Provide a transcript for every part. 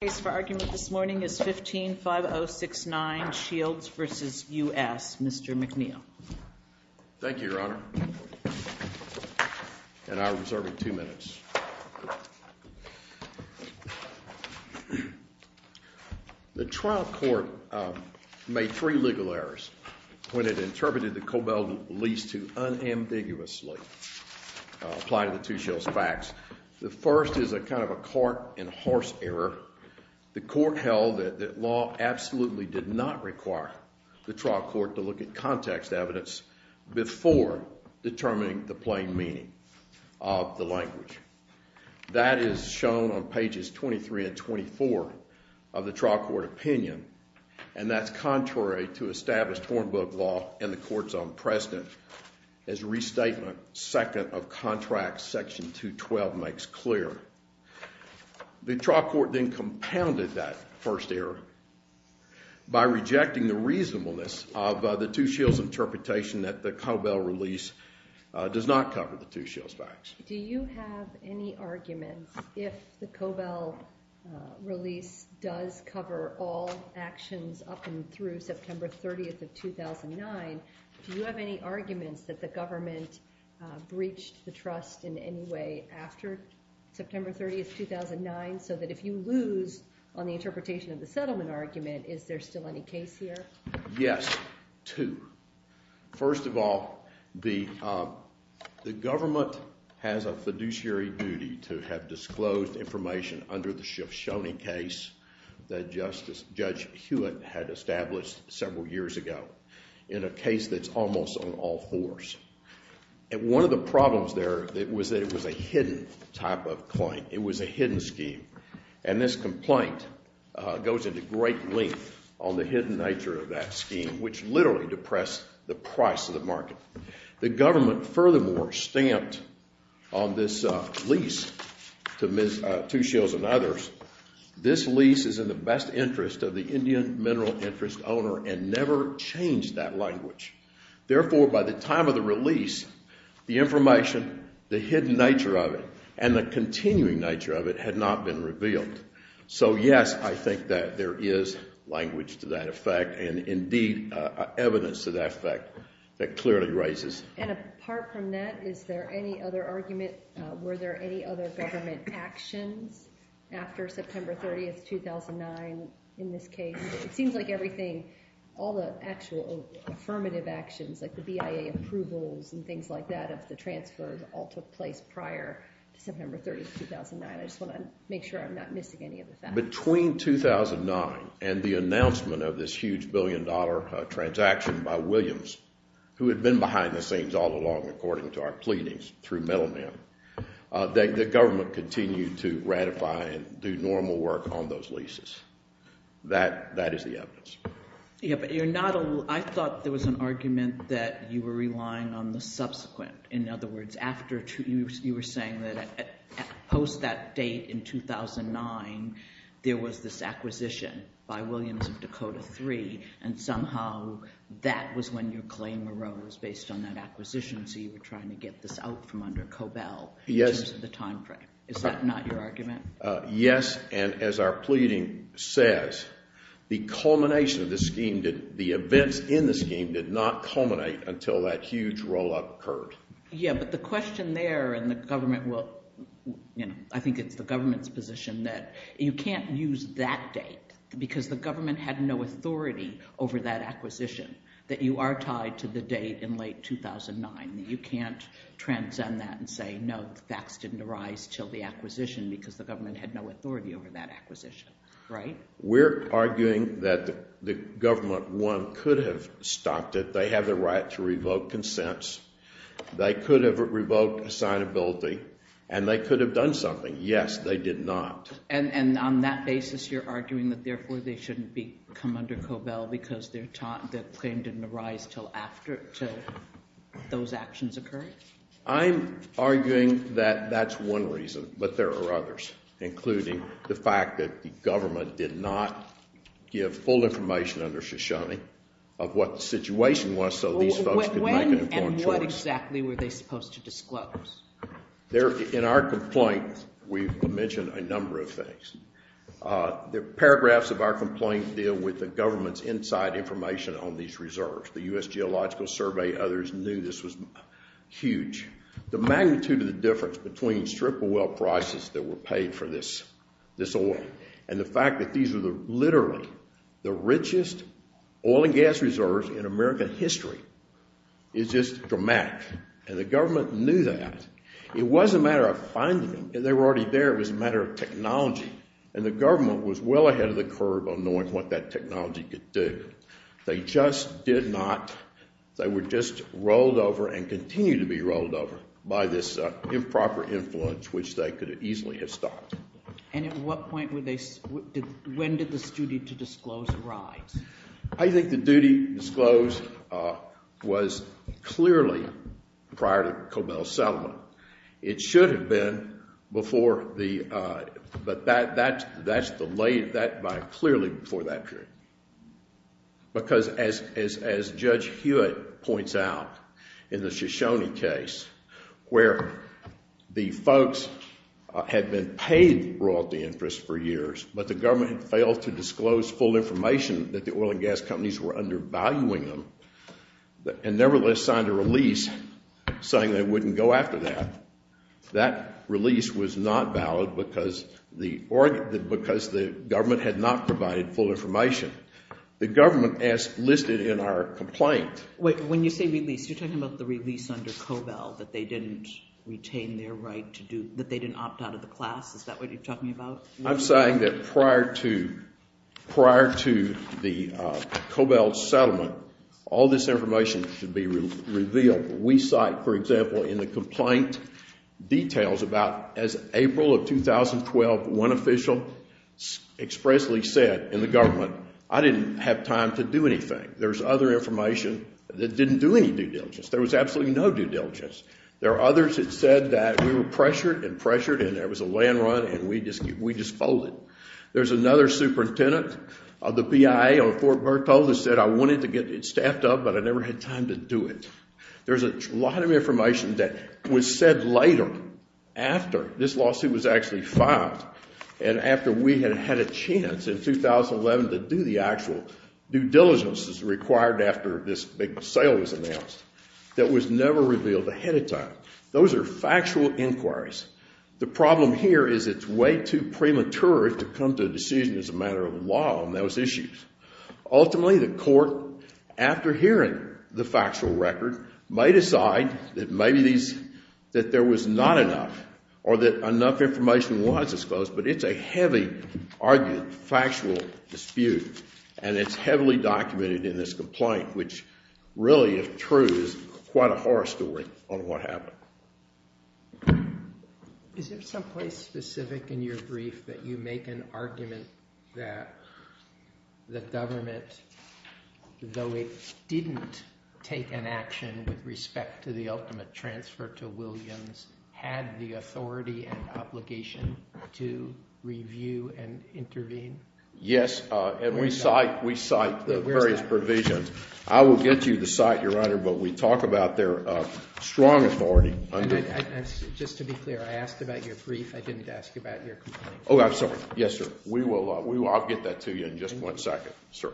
The case for argument this morning is 15-5069, Shields v. U.S., Mr. McNeil. Thank you, Your Honor. And I reserve two minutes. The trial court made three legal errors when it interpreted the Cobell lease to unambiguously. Applying the two Shields facts, the first is a kind of a cart and horse error. The court held that law absolutely did not require the trial court to look at context evidence before determining the plain meaning of the language. That is shown on pages 23 and 24 of the trial court opinion, and that's contrary to established Hornbook law and the court's own precedent. As restatement, second of contract section 212 makes clear. The trial court then compounded that first error by rejecting the reasonableness of the two Shields interpretation that the Cobell release does not cover the two Shields facts. Do you have any arguments if the Cobell release does cover all actions up and through September 30th of 2009, do you have any arguments that the government breached the trust in any way after September 30th, 2009, so that if you lose on the interpretation of the settlement argument, is there still any case here? Yes, two. First of all, the government has a fiduciary duty to have disclosed information under the Shoshone case that Judge Hewitt had established several years ago in a case that's almost on all fours. And one of the problems there was that it was a hidden type of claim. It was a hidden scheme, and this complaint goes into great length on the hidden nature of that scheme, which literally depressed the price of the market. The government furthermore stamped on this lease to two Shields and others, this lease is in the best interest of the Indian mineral interest owner and never changed that language. Therefore, by the time of the release, the information, the hidden nature of it, and the continuing nature of it had not been revealed. So yes, I think that there is language to that effect and indeed evidence to that effect that clearly raises. And apart from that, is there any other argument, were there any other government actions after September 30th, 2009 in this case? It seems like everything, all the actual affirmative actions like the BIA approvals and things like that of the transfers all took place prior to September 30th, 2009. I just want to make sure I'm not missing any of the facts. Between 2009 and the announcement of this huge billion dollar transaction by Williams, who had been behind the scenes all along according to our pleadings through metal men, the government continued to ratify and do normal work on those leases. That is the evidence. Yeah, but I thought there was an argument that you were relying on the subsequent. In other words, you were saying that post that date in 2009, there was this acquisition by Williams of Dakota III, and somehow that was when your claim arose based on that acquisition. So you were trying to get this out from under Cobell in terms of the time frame. Is that not your argument? Yes, and as our pleading says, the culmination of the scheme, the events in the scheme did not culminate until that huge roll-up occurred. Yeah, but the question there in the government, I think it's the government's position that you can't use that date because the government had no authority over that acquisition, that you are tied to the date in late 2009. You can't transcend that and say, no, the facts didn't arise until the acquisition because the government had no authority over that acquisition, right? We're arguing that the government, one, could have stopped it. They have the right to revoke consents. They could have revoked assignability, and they could have done something. Yes, they did not. And on that basis, you're arguing that therefore they shouldn't come under Cobell because their claim didn't arise until those actions occurred? I'm arguing that that's one reason, but there are others, including the fact that the government did not give full information under Shoshone of what the situation was so these folks could make an informed choice. When and what exactly were they supposed to disclose? In our complaint, we mentioned a number of things. The paragraphs of our complaint deal with the government's inside information on these reserves. The U.S. Geological Survey, others knew this was huge. The magnitude of the difference between strip oil prices that were paid for this oil and the fact that these are literally the richest oil and gas reserves in American history is just dramatic, and the government knew that. It wasn't a matter of finding them. They were already there. It was a matter of technology, and the government was well ahead of the curve on knowing what that technology could do. They just did not. They were just rolled over and continue to be rolled over by this improper influence, which they could easily have stopped. And at what point did this duty to disclose arise? I think the duty disclosed was clearly prior to Cobell Settlement. It should have been before the, but that's clearly before that period because as Judge Hewitt points out in the Shoshone case where the folks had been paid royalty interest for years, but the government had failed to disclose full information that the oil and gas companies were undervaluing them and nevertheless signed a release saying they wouldn't go after that. That release was not valid because the government had not provided full information. The government, as listed in our complaint— Wait, when you say release, you're talking about the release under Cobell that they didn't retain their right to do—that they didn't opt out of the class. Is that what you're talking about? I'm saying that prior to the Cobell Settlement, all this information should be revealed. We cite, for example, in the complaint details about as April of 2012, one official expressly said in the government, I didn't have time to do anything. There's other information that didn't do any due diligence. There was absolutely no due diligence. There are others that said that we were pressured and pressured and there was a land run and we just folded. There's another superintendent of the PIA on Fort Berthold that said I wanted to get it staffed up, but I never had time to do it. There's a lot of information that was said later, after this lawsuit was actually filed, and after we had had a chance in 2011 to do the actual due diligence that's required after this big sale was announced, that was never revealed ahead of time. Those are factual inquiries. The problem here is it's way too premature to come to a decision as a matter of law on those issues. Ultimately, the court, after hearing the factual record, may decide that maybe there was not enough or that enough information was disclosed, but it's a heavy argued factual dispute and it's heavily documented in this complaint, which really, if true, is quite a horror story on what happened. Is there someplace specific in your brief that you make an argument that the government, though it didn't take an action with respect to the ultimate transfer to Williams, had the authority and obligation to review and intervene? Yes, and we cite the various provisions. I will get you the site, Your Honor, but we talk about their strong authority. Just to be clear, I asked about your brief. I didn't ask about your complaint. Oh, I'm sorry. Yes, sir. I'll get that to you in just one second, sir.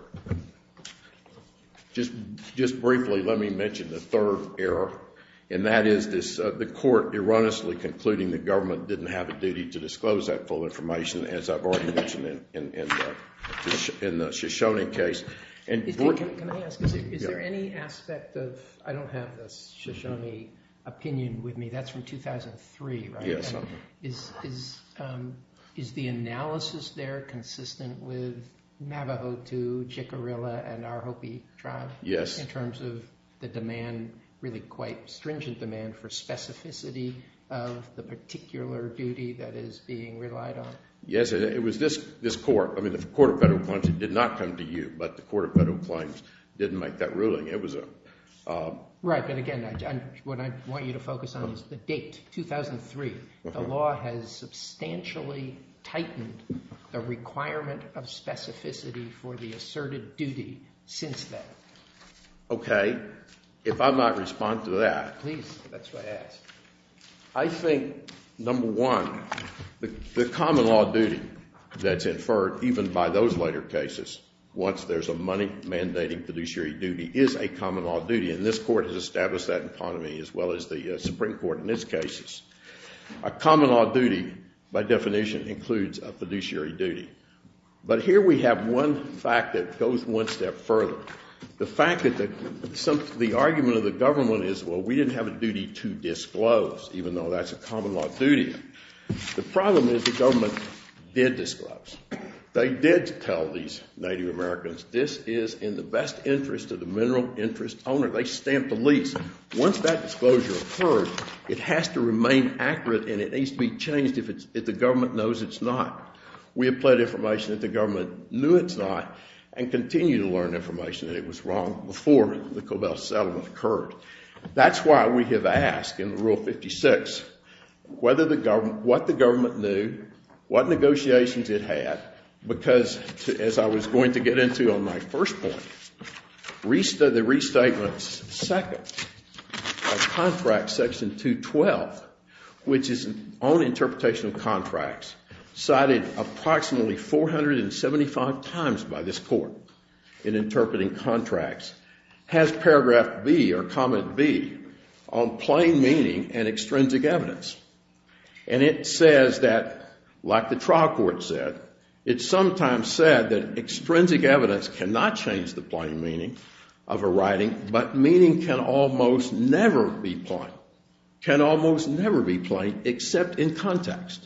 Just briefly, let me mention the third error, and that is the court erroneously concluding the government didn't have a duty to disclose that full information, as I've already mentioned in the Shoshone case. Can I ask, is there any aspect of, I don't have the Shoshone opinion with me. That's from 2003, right? Yes. Is the analysis there consistent with Navajo II, Chickarilla, and our Hopi tribe? Yes. In terms of the demand, really quite stringent demand for specificity of the particular duty that is being relied on? Yes, it was this court. I mean, the Court of Federal Claims, it did not come to you, but the Court of Federal Claims didn't make that ruling. Right, but again, what I want you to focus on is the date, 2003. The law has substantially tightened the requirement of specificity for the asserted duty since then. Okay. If I might respond to that. Please. That's what I asked. I think, number one, the common law duty that's inferred even by those later cases, once there's a money-mandating fiduciary duty, is a common law duty, and this court has established that in front of me as well as the Supreme Court in its cases. A common law duty, by definition, includes a fiduciary duty. But here we have one fact that goes one step further. The fact that the argument of the government is, well, we didn't have a duty to disclose, even though that's a common law duty. The problem is the government did disclose. They did tell these Native Americans, this is in the best interest of the mineral interest owner. They stamped the lease. Once that disclosure occurred, it has to remain accurate, and it needs to be changed if the government knows it's not. We have pled information that the government knew it's not and continue to learn information that it was wrong before the Cobell Settlement occurred. That's why we have asked in Rule 56 what the government knew, what negotiations it had, because, as I was going to get into on my first point, the Restatements, Section 212, which is on interpretation of contracts, cited approximately 475 times by this Court in interpreting contracts, has paragraph B or comment B on plain meaning and extrinsic evidence. And it says that, like the trial court said, it sometimes said that extrinsic evidence cannot change the plain meaning of a writing but meaning can almost never be plain, can almost never be plain except in context.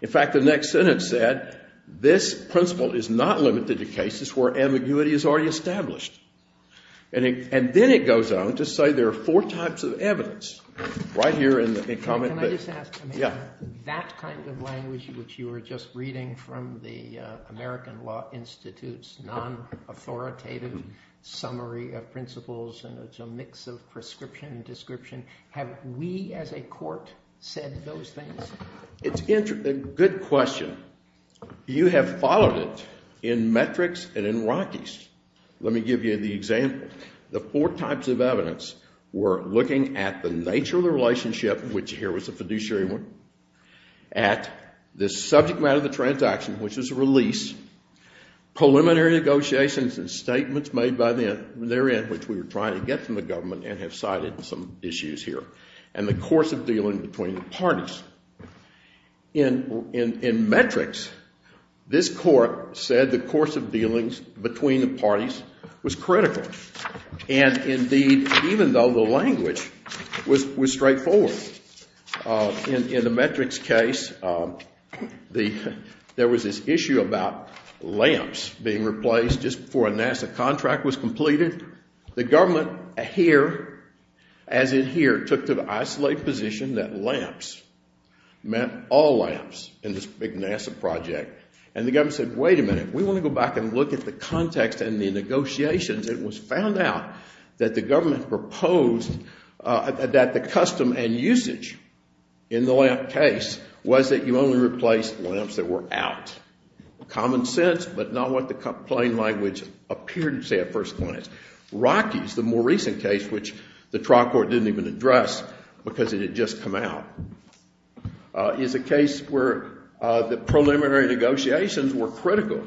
In fact, the next sentence said, this principle is not limited to cases where ambiguity is already established. And then it goes on to say there are four types of evidence right here in comment B. Can I just ask? Yeah. That kind of language which you were just reading from the American Law Institute's non-authoritative summary of principles, and it's a mix of prescription and description. Have we as a court said those things? It's a good question. You have followed it in metrics and in Rockies. Let me give you the example. The four types of evidence were looking at the nature of the relationship, which here was a fiduciary one, at the subject matter of the transaction, which was a release, preliminary negotiations and statements made by their end, which we were trying to get from the government and have cited some issues here, and the course of dealing between the parties. In metrics, this court said the course of dealings between the parties was critical. And indeed, even though the language was straightforward, in the metrics case, there was this issue about lamps being replaced just before a NASA contract was completed. The government here, as in here, took the isolated position that lamps, meant all lamps in this big NASA project. And the government said, wait a minute, we want to go back and look at the context and the negotiations. It was found out that the government proposed that the custom and usage in the lamp case was that you only replace lamps that were out. Common sense, but not what the plain language appeared to say at first glance. Rockies, the more recent case, which the trial court didn't even address because it had just come out, is a case where the preliminary negotiations were critical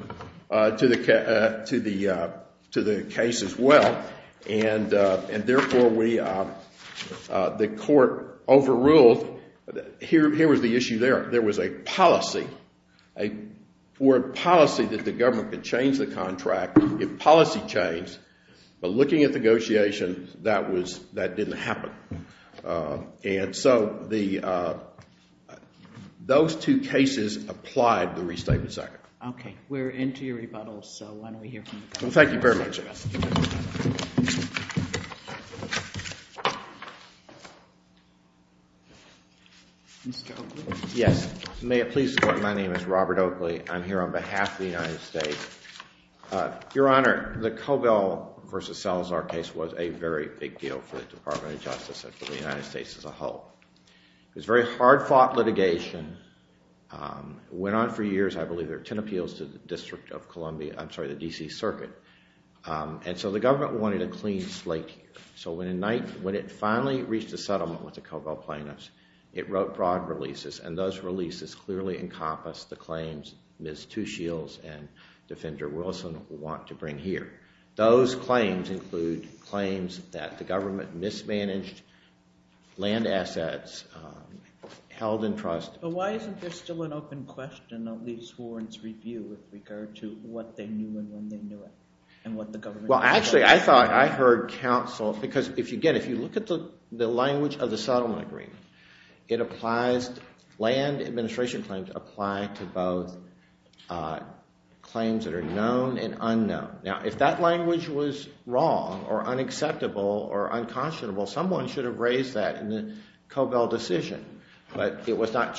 to the case as well. And therefore, the court overruled. Here was the issue there. There was a policy, a forward policy that the government could change the contract if policy changed, but looking at negotiations, that didn't happen. And so those two cases applied the restatement sector. Okay. We're into your rebuttals, so why don't we hear from you. Well, thank you very much. Mr. Oakley? Yes. May it please the Court, my name is Robert Oakley. I'm here on behalf of the United States. Your Honor, the Covell v. Salazar case was a very big deal for the Department of Justice and for the United States as a whole. It was very hard-fought litigation. It went on for years. I believe there were ten appeals to the District of Columbia, I'm sorry, the D.C. Circuit. And so the government wanted a clean slate here. So when it finally reached a settlement with the Covell plaintiffs, it wrote broad releases, and those releases clearly encompassed the claims Ms. Two Shields and Defender Wilson want to bring here. Those claims include claims that the government mismanaged land assets, held in trust. But why isn't there still an open question of Lee Sworn's review with regard to what they knew and when they knew it and what the government said? Well, actually, I thought I heard counsel, because, again, if you look at the language of the settlement agreement, it applies, land administration claims apply to both claims that are known and unknown. Now, if that language was wrong or unacceptable or unconscionable, someone should have raised that in the Covell decision. But it was not.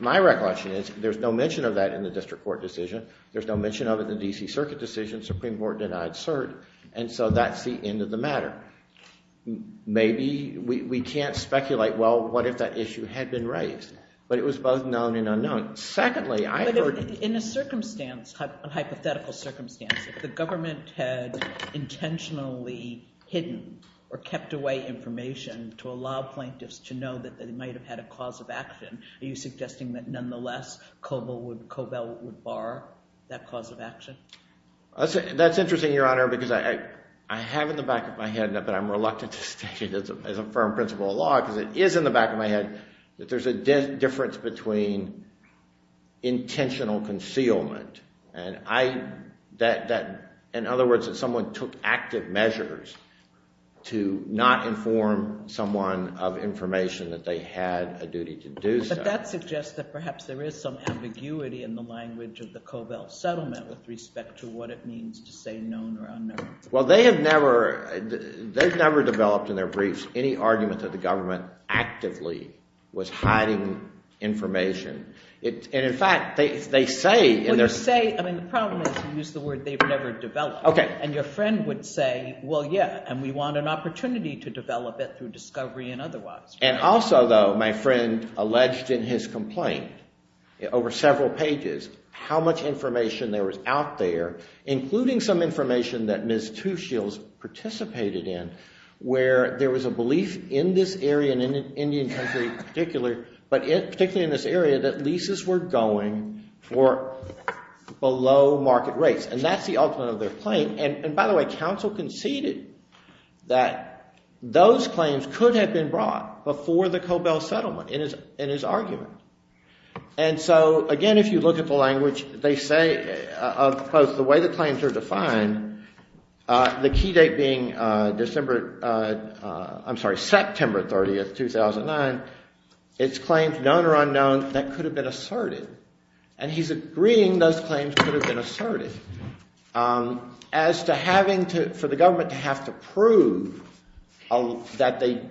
My recollection is there's no mention of that in the district court decision. There's no mention of it in the D.C. Circuit decision. The Supreme Court denied cert. And so that's the end of the matter. Maybe we can't speculate, well, what if that issue had been raised? But it was both known and unknown. But in a hypothetical circumstance, if the government had intentionally hidden or kept away information to allow plaintiffs to know that they might have had a cause of action, are you suggesting that, nonetheless, Covell would bar that cause of action? That's interesting, Your Honor, because I have in the back of my head, but I'm reluctant to state it as a firm principle of law because it is in the back of my head, that there's a difference between intentional concealment and, in other words, that someone took active measures to not inform someone of information that they had a duty to do so. But that suggests that perhaps there is some ambiguity in the language of the Covell settlement with respect to what it means to say known or unknown. Well, they have never developed in their briefs any argument that the government actively was hiding information. And, in fact, they say in their... Well, you say, I mean, the problem is you use the word they've never developed. Okay. And your friend would say, well, yeah, and we want an opportunity to develop it through discovery and otherwise. And also, though, my friend alleged in his complaint, over several pages, how much information there was out there, including some information that Ms. Tushiel's participated in, where there was a belief in this area and in Indian country in particular, but particularly in this area, that leases were going for below market rates. And that's the ultimate of their claim. And, by the way, counsel conceded that those claims could have been brought before the Covell settlement in his argument. And so, again, if you look at the language, they say of both the way the claims are defined, the key date being September 30th, 2009, it's claims, known or unknown, that could have been asserted. And he's agreeing those claims could have been asserted. As to having to, for the government to have to prove that they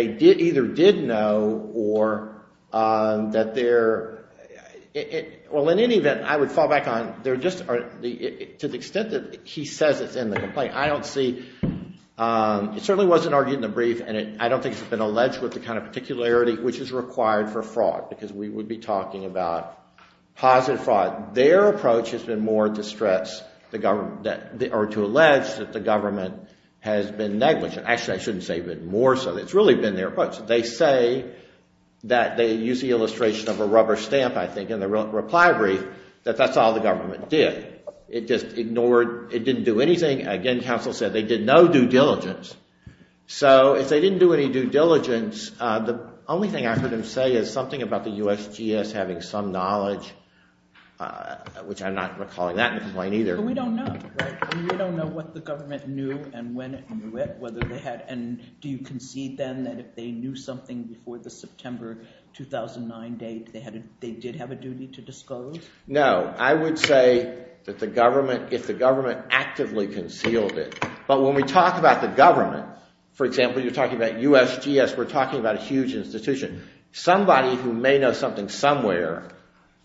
either did know or that they're... Well, in any event, I would fall back on, to the extent that he says it's in the complaint, I don't see... It certainly wasn't argued in the brief, and I don't think it's been alleged with the kind of particularity which is required for fraud, because we would be talking about positive fraud. Their approach has been more to stress the government, or to allege that the government has been negligent. Actually, I shouldn't say even more so. It's really been their approach. They say that they use the illustration of a rubber stamp, I think, in the reply brief, that that's all the government did. It just ignored, it didn't do anything. Again, counsel said they did no due diligence. So if they didn't do any due diligence, the only thing I could say is something about the USGS having some knowledge, which I'm not recalling that in the complaint either. But we don't know, right? We don't know what the government knew and when it knew it, whether they had... And do you concede then that if they knew something before the September 2009 date, they did have a duty to disclose? No. I would say that if the government actively concealed it. But when we talk about the government, for example, you're talking about USGS, we're talking about a huge institution. Somebody who may know something somewhere,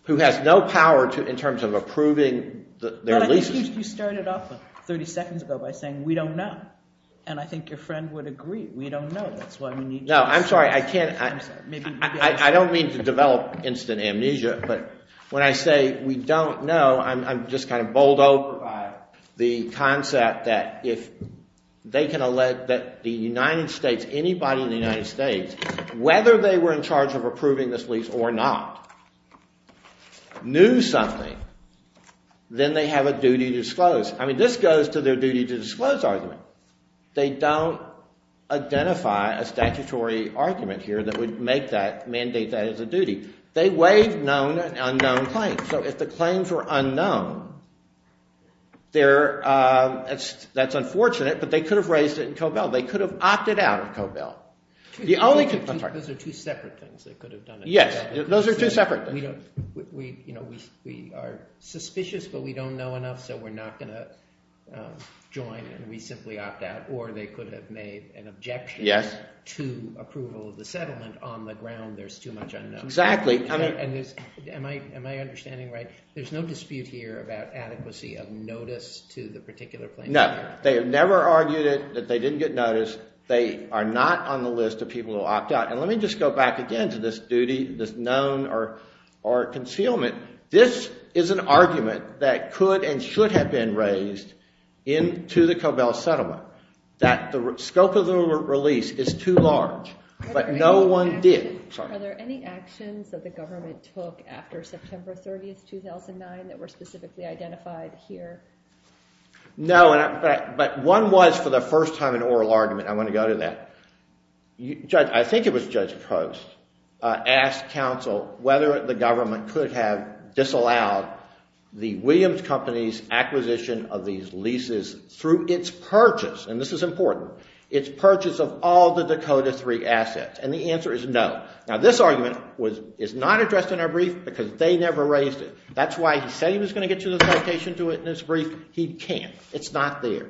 who has no power in terms of approving their leases... You started off 30 seconds ago by saying we don't know. And I think your friend would agree. We don't know. That's why we need to... No, I'm sorry. I don't mean to develop instant amnesia, but when I say we don't know, I'm just kind of bowled over by the concept that if they can elect that the United States, anybody in the United States, whether they were in charge of approving this lease or not, knew something, then they have a duty to disclose. I mean, this goes to their duty to disclose argument. They don't identify a statutory argument here that would make that, mandate that as a duty. They waive known and unknown claims. So if the claims were unknown, that's unfortunate, but they could have raised it in Cobell. They could have opted out of Cobell. Those are two separate things. Yes, those are two separate things. We are suspicious, but we don't know enough, so we're not going to join and we simply opt out. Or they could have made an objection to approval of the settlement on the ground. There's too much unknown. Exactly. Am I understanding right? There's no dispute here about adequacy of notice to the particular claim. No. They have never argued that they didn't get notice. They are not on the list of people who opt out. And let me just go back again to this duty, this known or concealment. This is an argument that could and should have been raised into the Cobell settlement, that the scope of the release is too large, but no one did. Are there any actions that the government took after September 30, 2009, that were specifically identified here? No, but one was for the first time an oral argument. I want to go to that. I think it was Judge Post asked counsel whether the government could have disallowed the Williams Company's acquisition of these leases through its purchase, and this is important, its purchase of all the Dakota III assets. And the answer is no. Now, this argument is not addressed in our brief because they never raised it. That's why he said he was going to get you the citation to it in his brief. He can't. It's not there.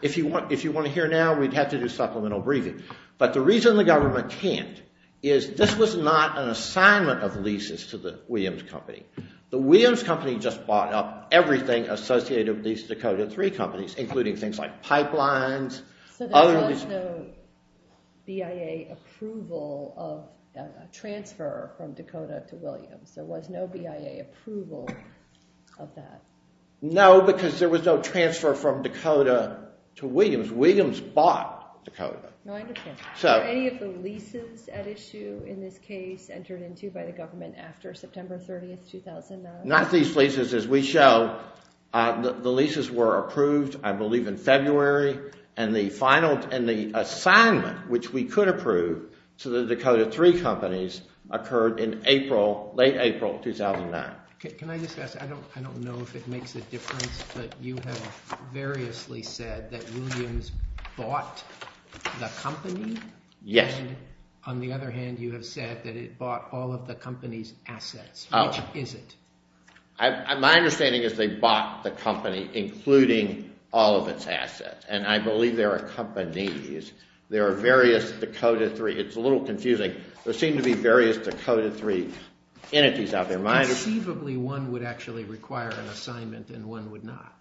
If you want to hear now, we'd have to do supplemental briefing. But the reason the government can't is this was not an assignment of leases to the Williams Company. The Williams Company just bought up everything associated with these Dakota III companies, including things like pipelines. So there was no BIA approval of transfer from Dakota to Williams. There was no BIA approval of that. No, because there was no transfer from Dakota to Williams. Williams bought Dakota. No, I understand. Were any of the leases at issue in this case entered into by the government after September 30, 2009? Not these leases. As we show, the leases were approved, I believe, in February, and the assignment which we could approve to the Dakota III companies occurred in late April 2009. Can I just ask? I don't know if it makes a difference, but you have variously said that Williams bought the company. Yes. And on the other hand, you have said that it bought all of the company's assets. Which is it? My understanding is they bought the company, including all of its assets, and I believe there are companies. There are various Dakota III. It's a little confusing. There seem to be various Dakota III entities out there. Conceivably, one would actually require an assignment and one would not.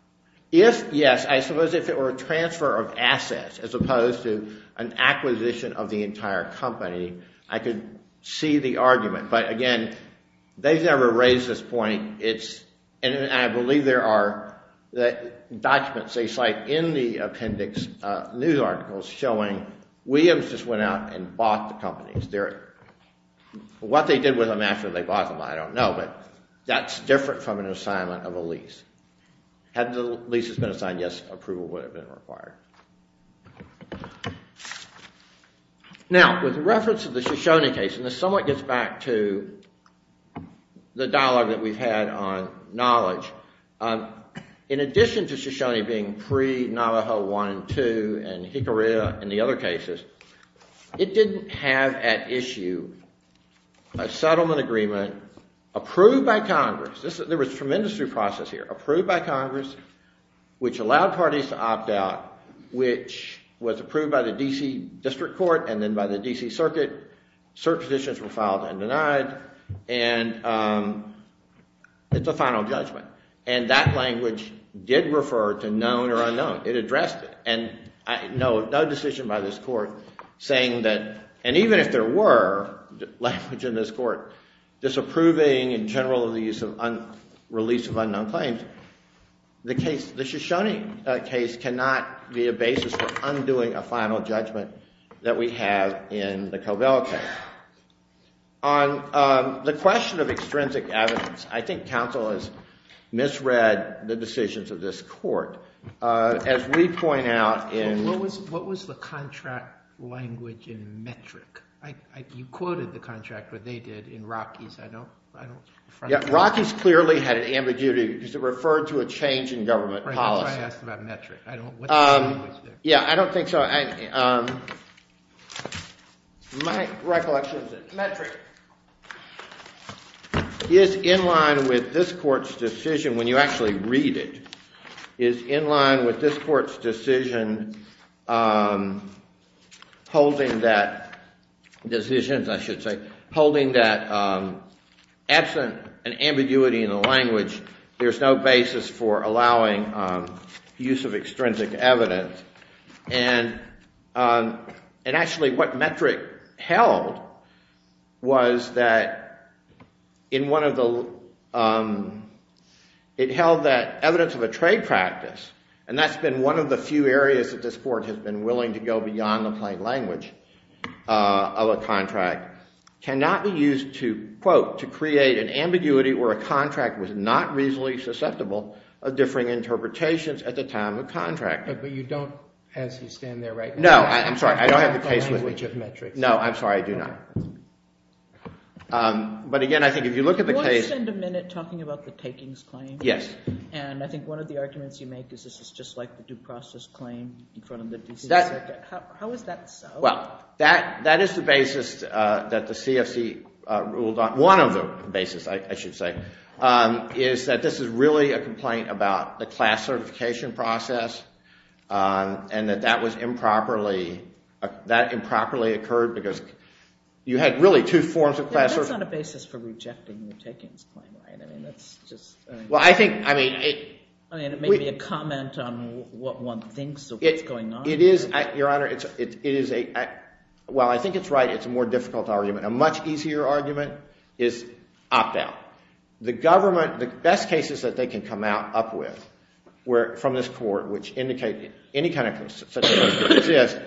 Yes. I suppose if it were a transfer of assets as opposed to an acquisition of the entire company, I could see the argument. But again, they've never raised this point. And I believe there are documents they cite in the appendix news articles showing Williams just went out and bought the company. What they did with them after they bought them, I don't know, but that's different from an assignment of a lease. Had the lease been assigned, yes, approval would have been required. Now, with reference to the Shoshone case, and this somewhat gets back to the dialogue that we've had on knowledge, in addition to Shoshone being pre-Navajo I and II and Hickory in the other cases, it didn't have at issue a settlement agreement approved by Congress. There was a tremendous due process here. Approved by Congress, which allowed parties to opt out, which was approved by the D.C. District Court and then by the D.C. Circuit. Certain positions were filed and denied. And it's a final judgment. And that language did refer to known or unknown. It addressed it. And no decision by this court saying that, and even if there were language in this court disapproving in general of the release of unknown claims, the Shoshone case cannot be a basis for undoing a final judgment that we have in the Covell case. On the question of extrinsic evidence, What was the contract language in Metric? You quoted the contract where they did in Rockies. Rockies clearly had an ambiguity because it referred to a change in government policy. That's why I asked about Metric. Yeah, I don't think so. My recollection is that Metric is in line with this court's decision, when you actually read it, is in line with this court's decision holding that decision, I should say, holding that absent an ambiguity in the language, there's no basis for allowing use of extrinsic evidence. And actually what Metric held was that it held that evidence of a trade practice, and that's been one of the few areas that this court has been willing to go beyond the plain language of a contract, cannot be used to, quote, to create an ambiguity where a contract was not reasonably susceptible of differing interpretations at the time of contracting. But you don't, as you stand there right now, No, I'm sorry, I don't have the case with Metric. No, I'm sorry, I do not. But again, I think if you look at the case, We'll spend a minute talking about the takings claim. Yes. And I think one of the arguments you make is this is just like the due process claim in front of the DC Circuit. How is that so? Well, that is the basis that the CFC ruled on. One of the basis, I should say, is that this is really a complaint about the class certification process and that that improperly occurred because you had really two forms of class certification. That's not a basis for rejecting the takings claim, right? I mean, that's just Well, I think, I mean, I mean, it may be a comment on what one thinks of what's going on. It is, Your Honor, it is a, well, I think it's right. It's a more difficult argument. A much easier argument is opt out. The government, the best cases that they can come out up with from this court, which indicate any kind of classification exists,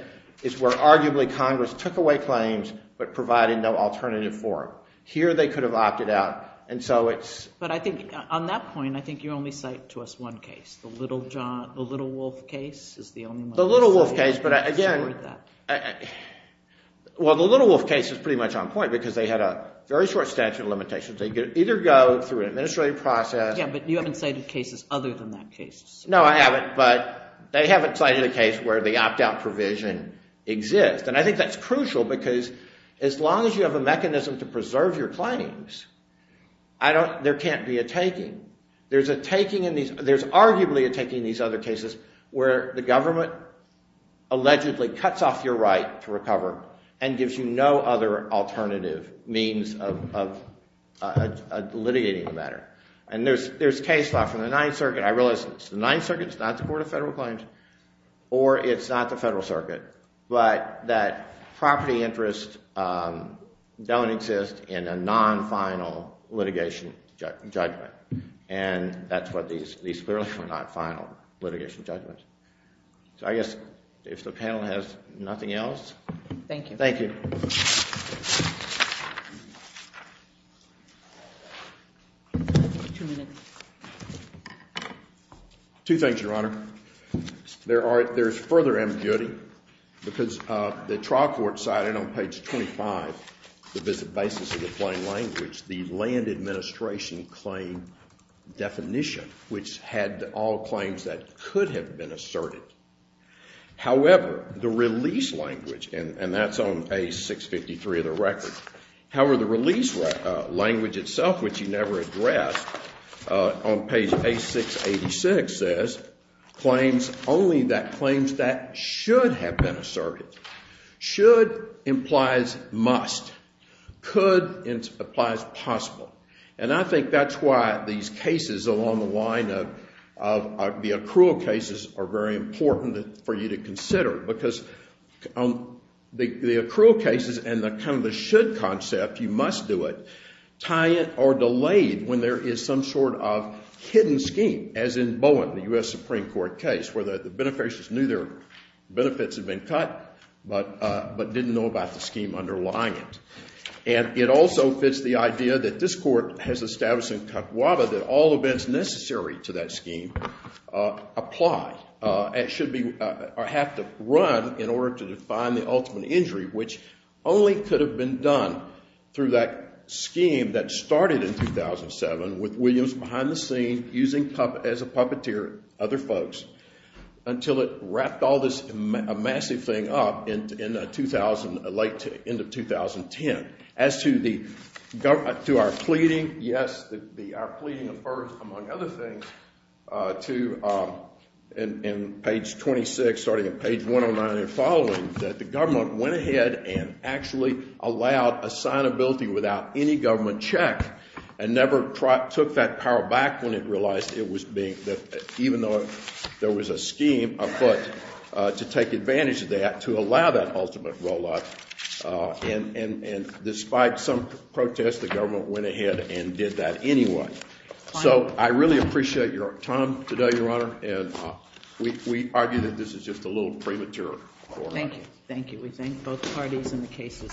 is where arguably Congress took away claims but provided no alternative for them. Here they could have opted out. And so it's But I think, on that point, I think you only cite to us one case. The Little Wolf case is the only one. The Little Wolf case, but again, Well, the Little Wolf case is pretty much on point because they had a very short statute of limitations. They could either go through an administrative process Yeah, but you haven't cited cases other than that case. No, I haven't. But they haven't cited a case where the opt out provision exists. And I think that's crucial because as long as you have a mechanism to preserve your claims, I don't, there can't be a taking. There's a taking in these, there's arguably a taking in these other cases where the government allegedly cuts off your right to recover and gives you no other alternative means of litigating the matter. And there's case law from the Ninth Circuit. I realize it's the Ninth Circuit, it's not the Court of Federal Claims or it's not the Federal Circuit, but that property interests don't exist in a non-final litigation judgment. And that's what these, these clearly are not final litigation judgments. So I guess if the panel has nothing else. Thank you. Thank you. Two things, Your Honor. There are, there's further ambiguity because the trial court cited on page 25, the visit basis of the plain language, the land administration claim definition, which had all claims that could have been asserted. However, the release language, and that's on page 653 of the record. However, the release language itself, which you never addressed on page 8686, says claims only that claims that should have been asserted. Should implies must. Could implies possible. And I think that's why these cases along the line of the accrual cases are very important for you to consider. Because the accrual cases and the kind of the should concept, you must do it, tie it or delay it when there is some sort of hidden scheme, as in Bowen, the U.S. Supreme Court case, where the beneficiaries knew their benefits had been cut, but didn't know about the scheme underlying it. And it also fits the idea that this court has established in Kukwuda that all events necessary to that scheme apply. It should be, or have to run in order to define the ultimate injury, which only could have been done through that scheme that started in 2007 with Williams behind the scene using as a puppeteer other folks until it wrapped all this massive thing up in late end of 2010. As to our pleading, yes, our pleading affords, among other things, to page 26, starting at page 109 and following, that the government went ahead and actually allowed assignability without any government check and never took that power back when it realized it was being, even though there was a scheme afoot, to take advantage of that to allow that ultimate rollout. And despite some protests, the government went ahead and did that anyway. So I really appreciate your time today, Your Honor, and we argue that this is just a little premature. Thank you. Thank you. We thank both parties and the case is submitted.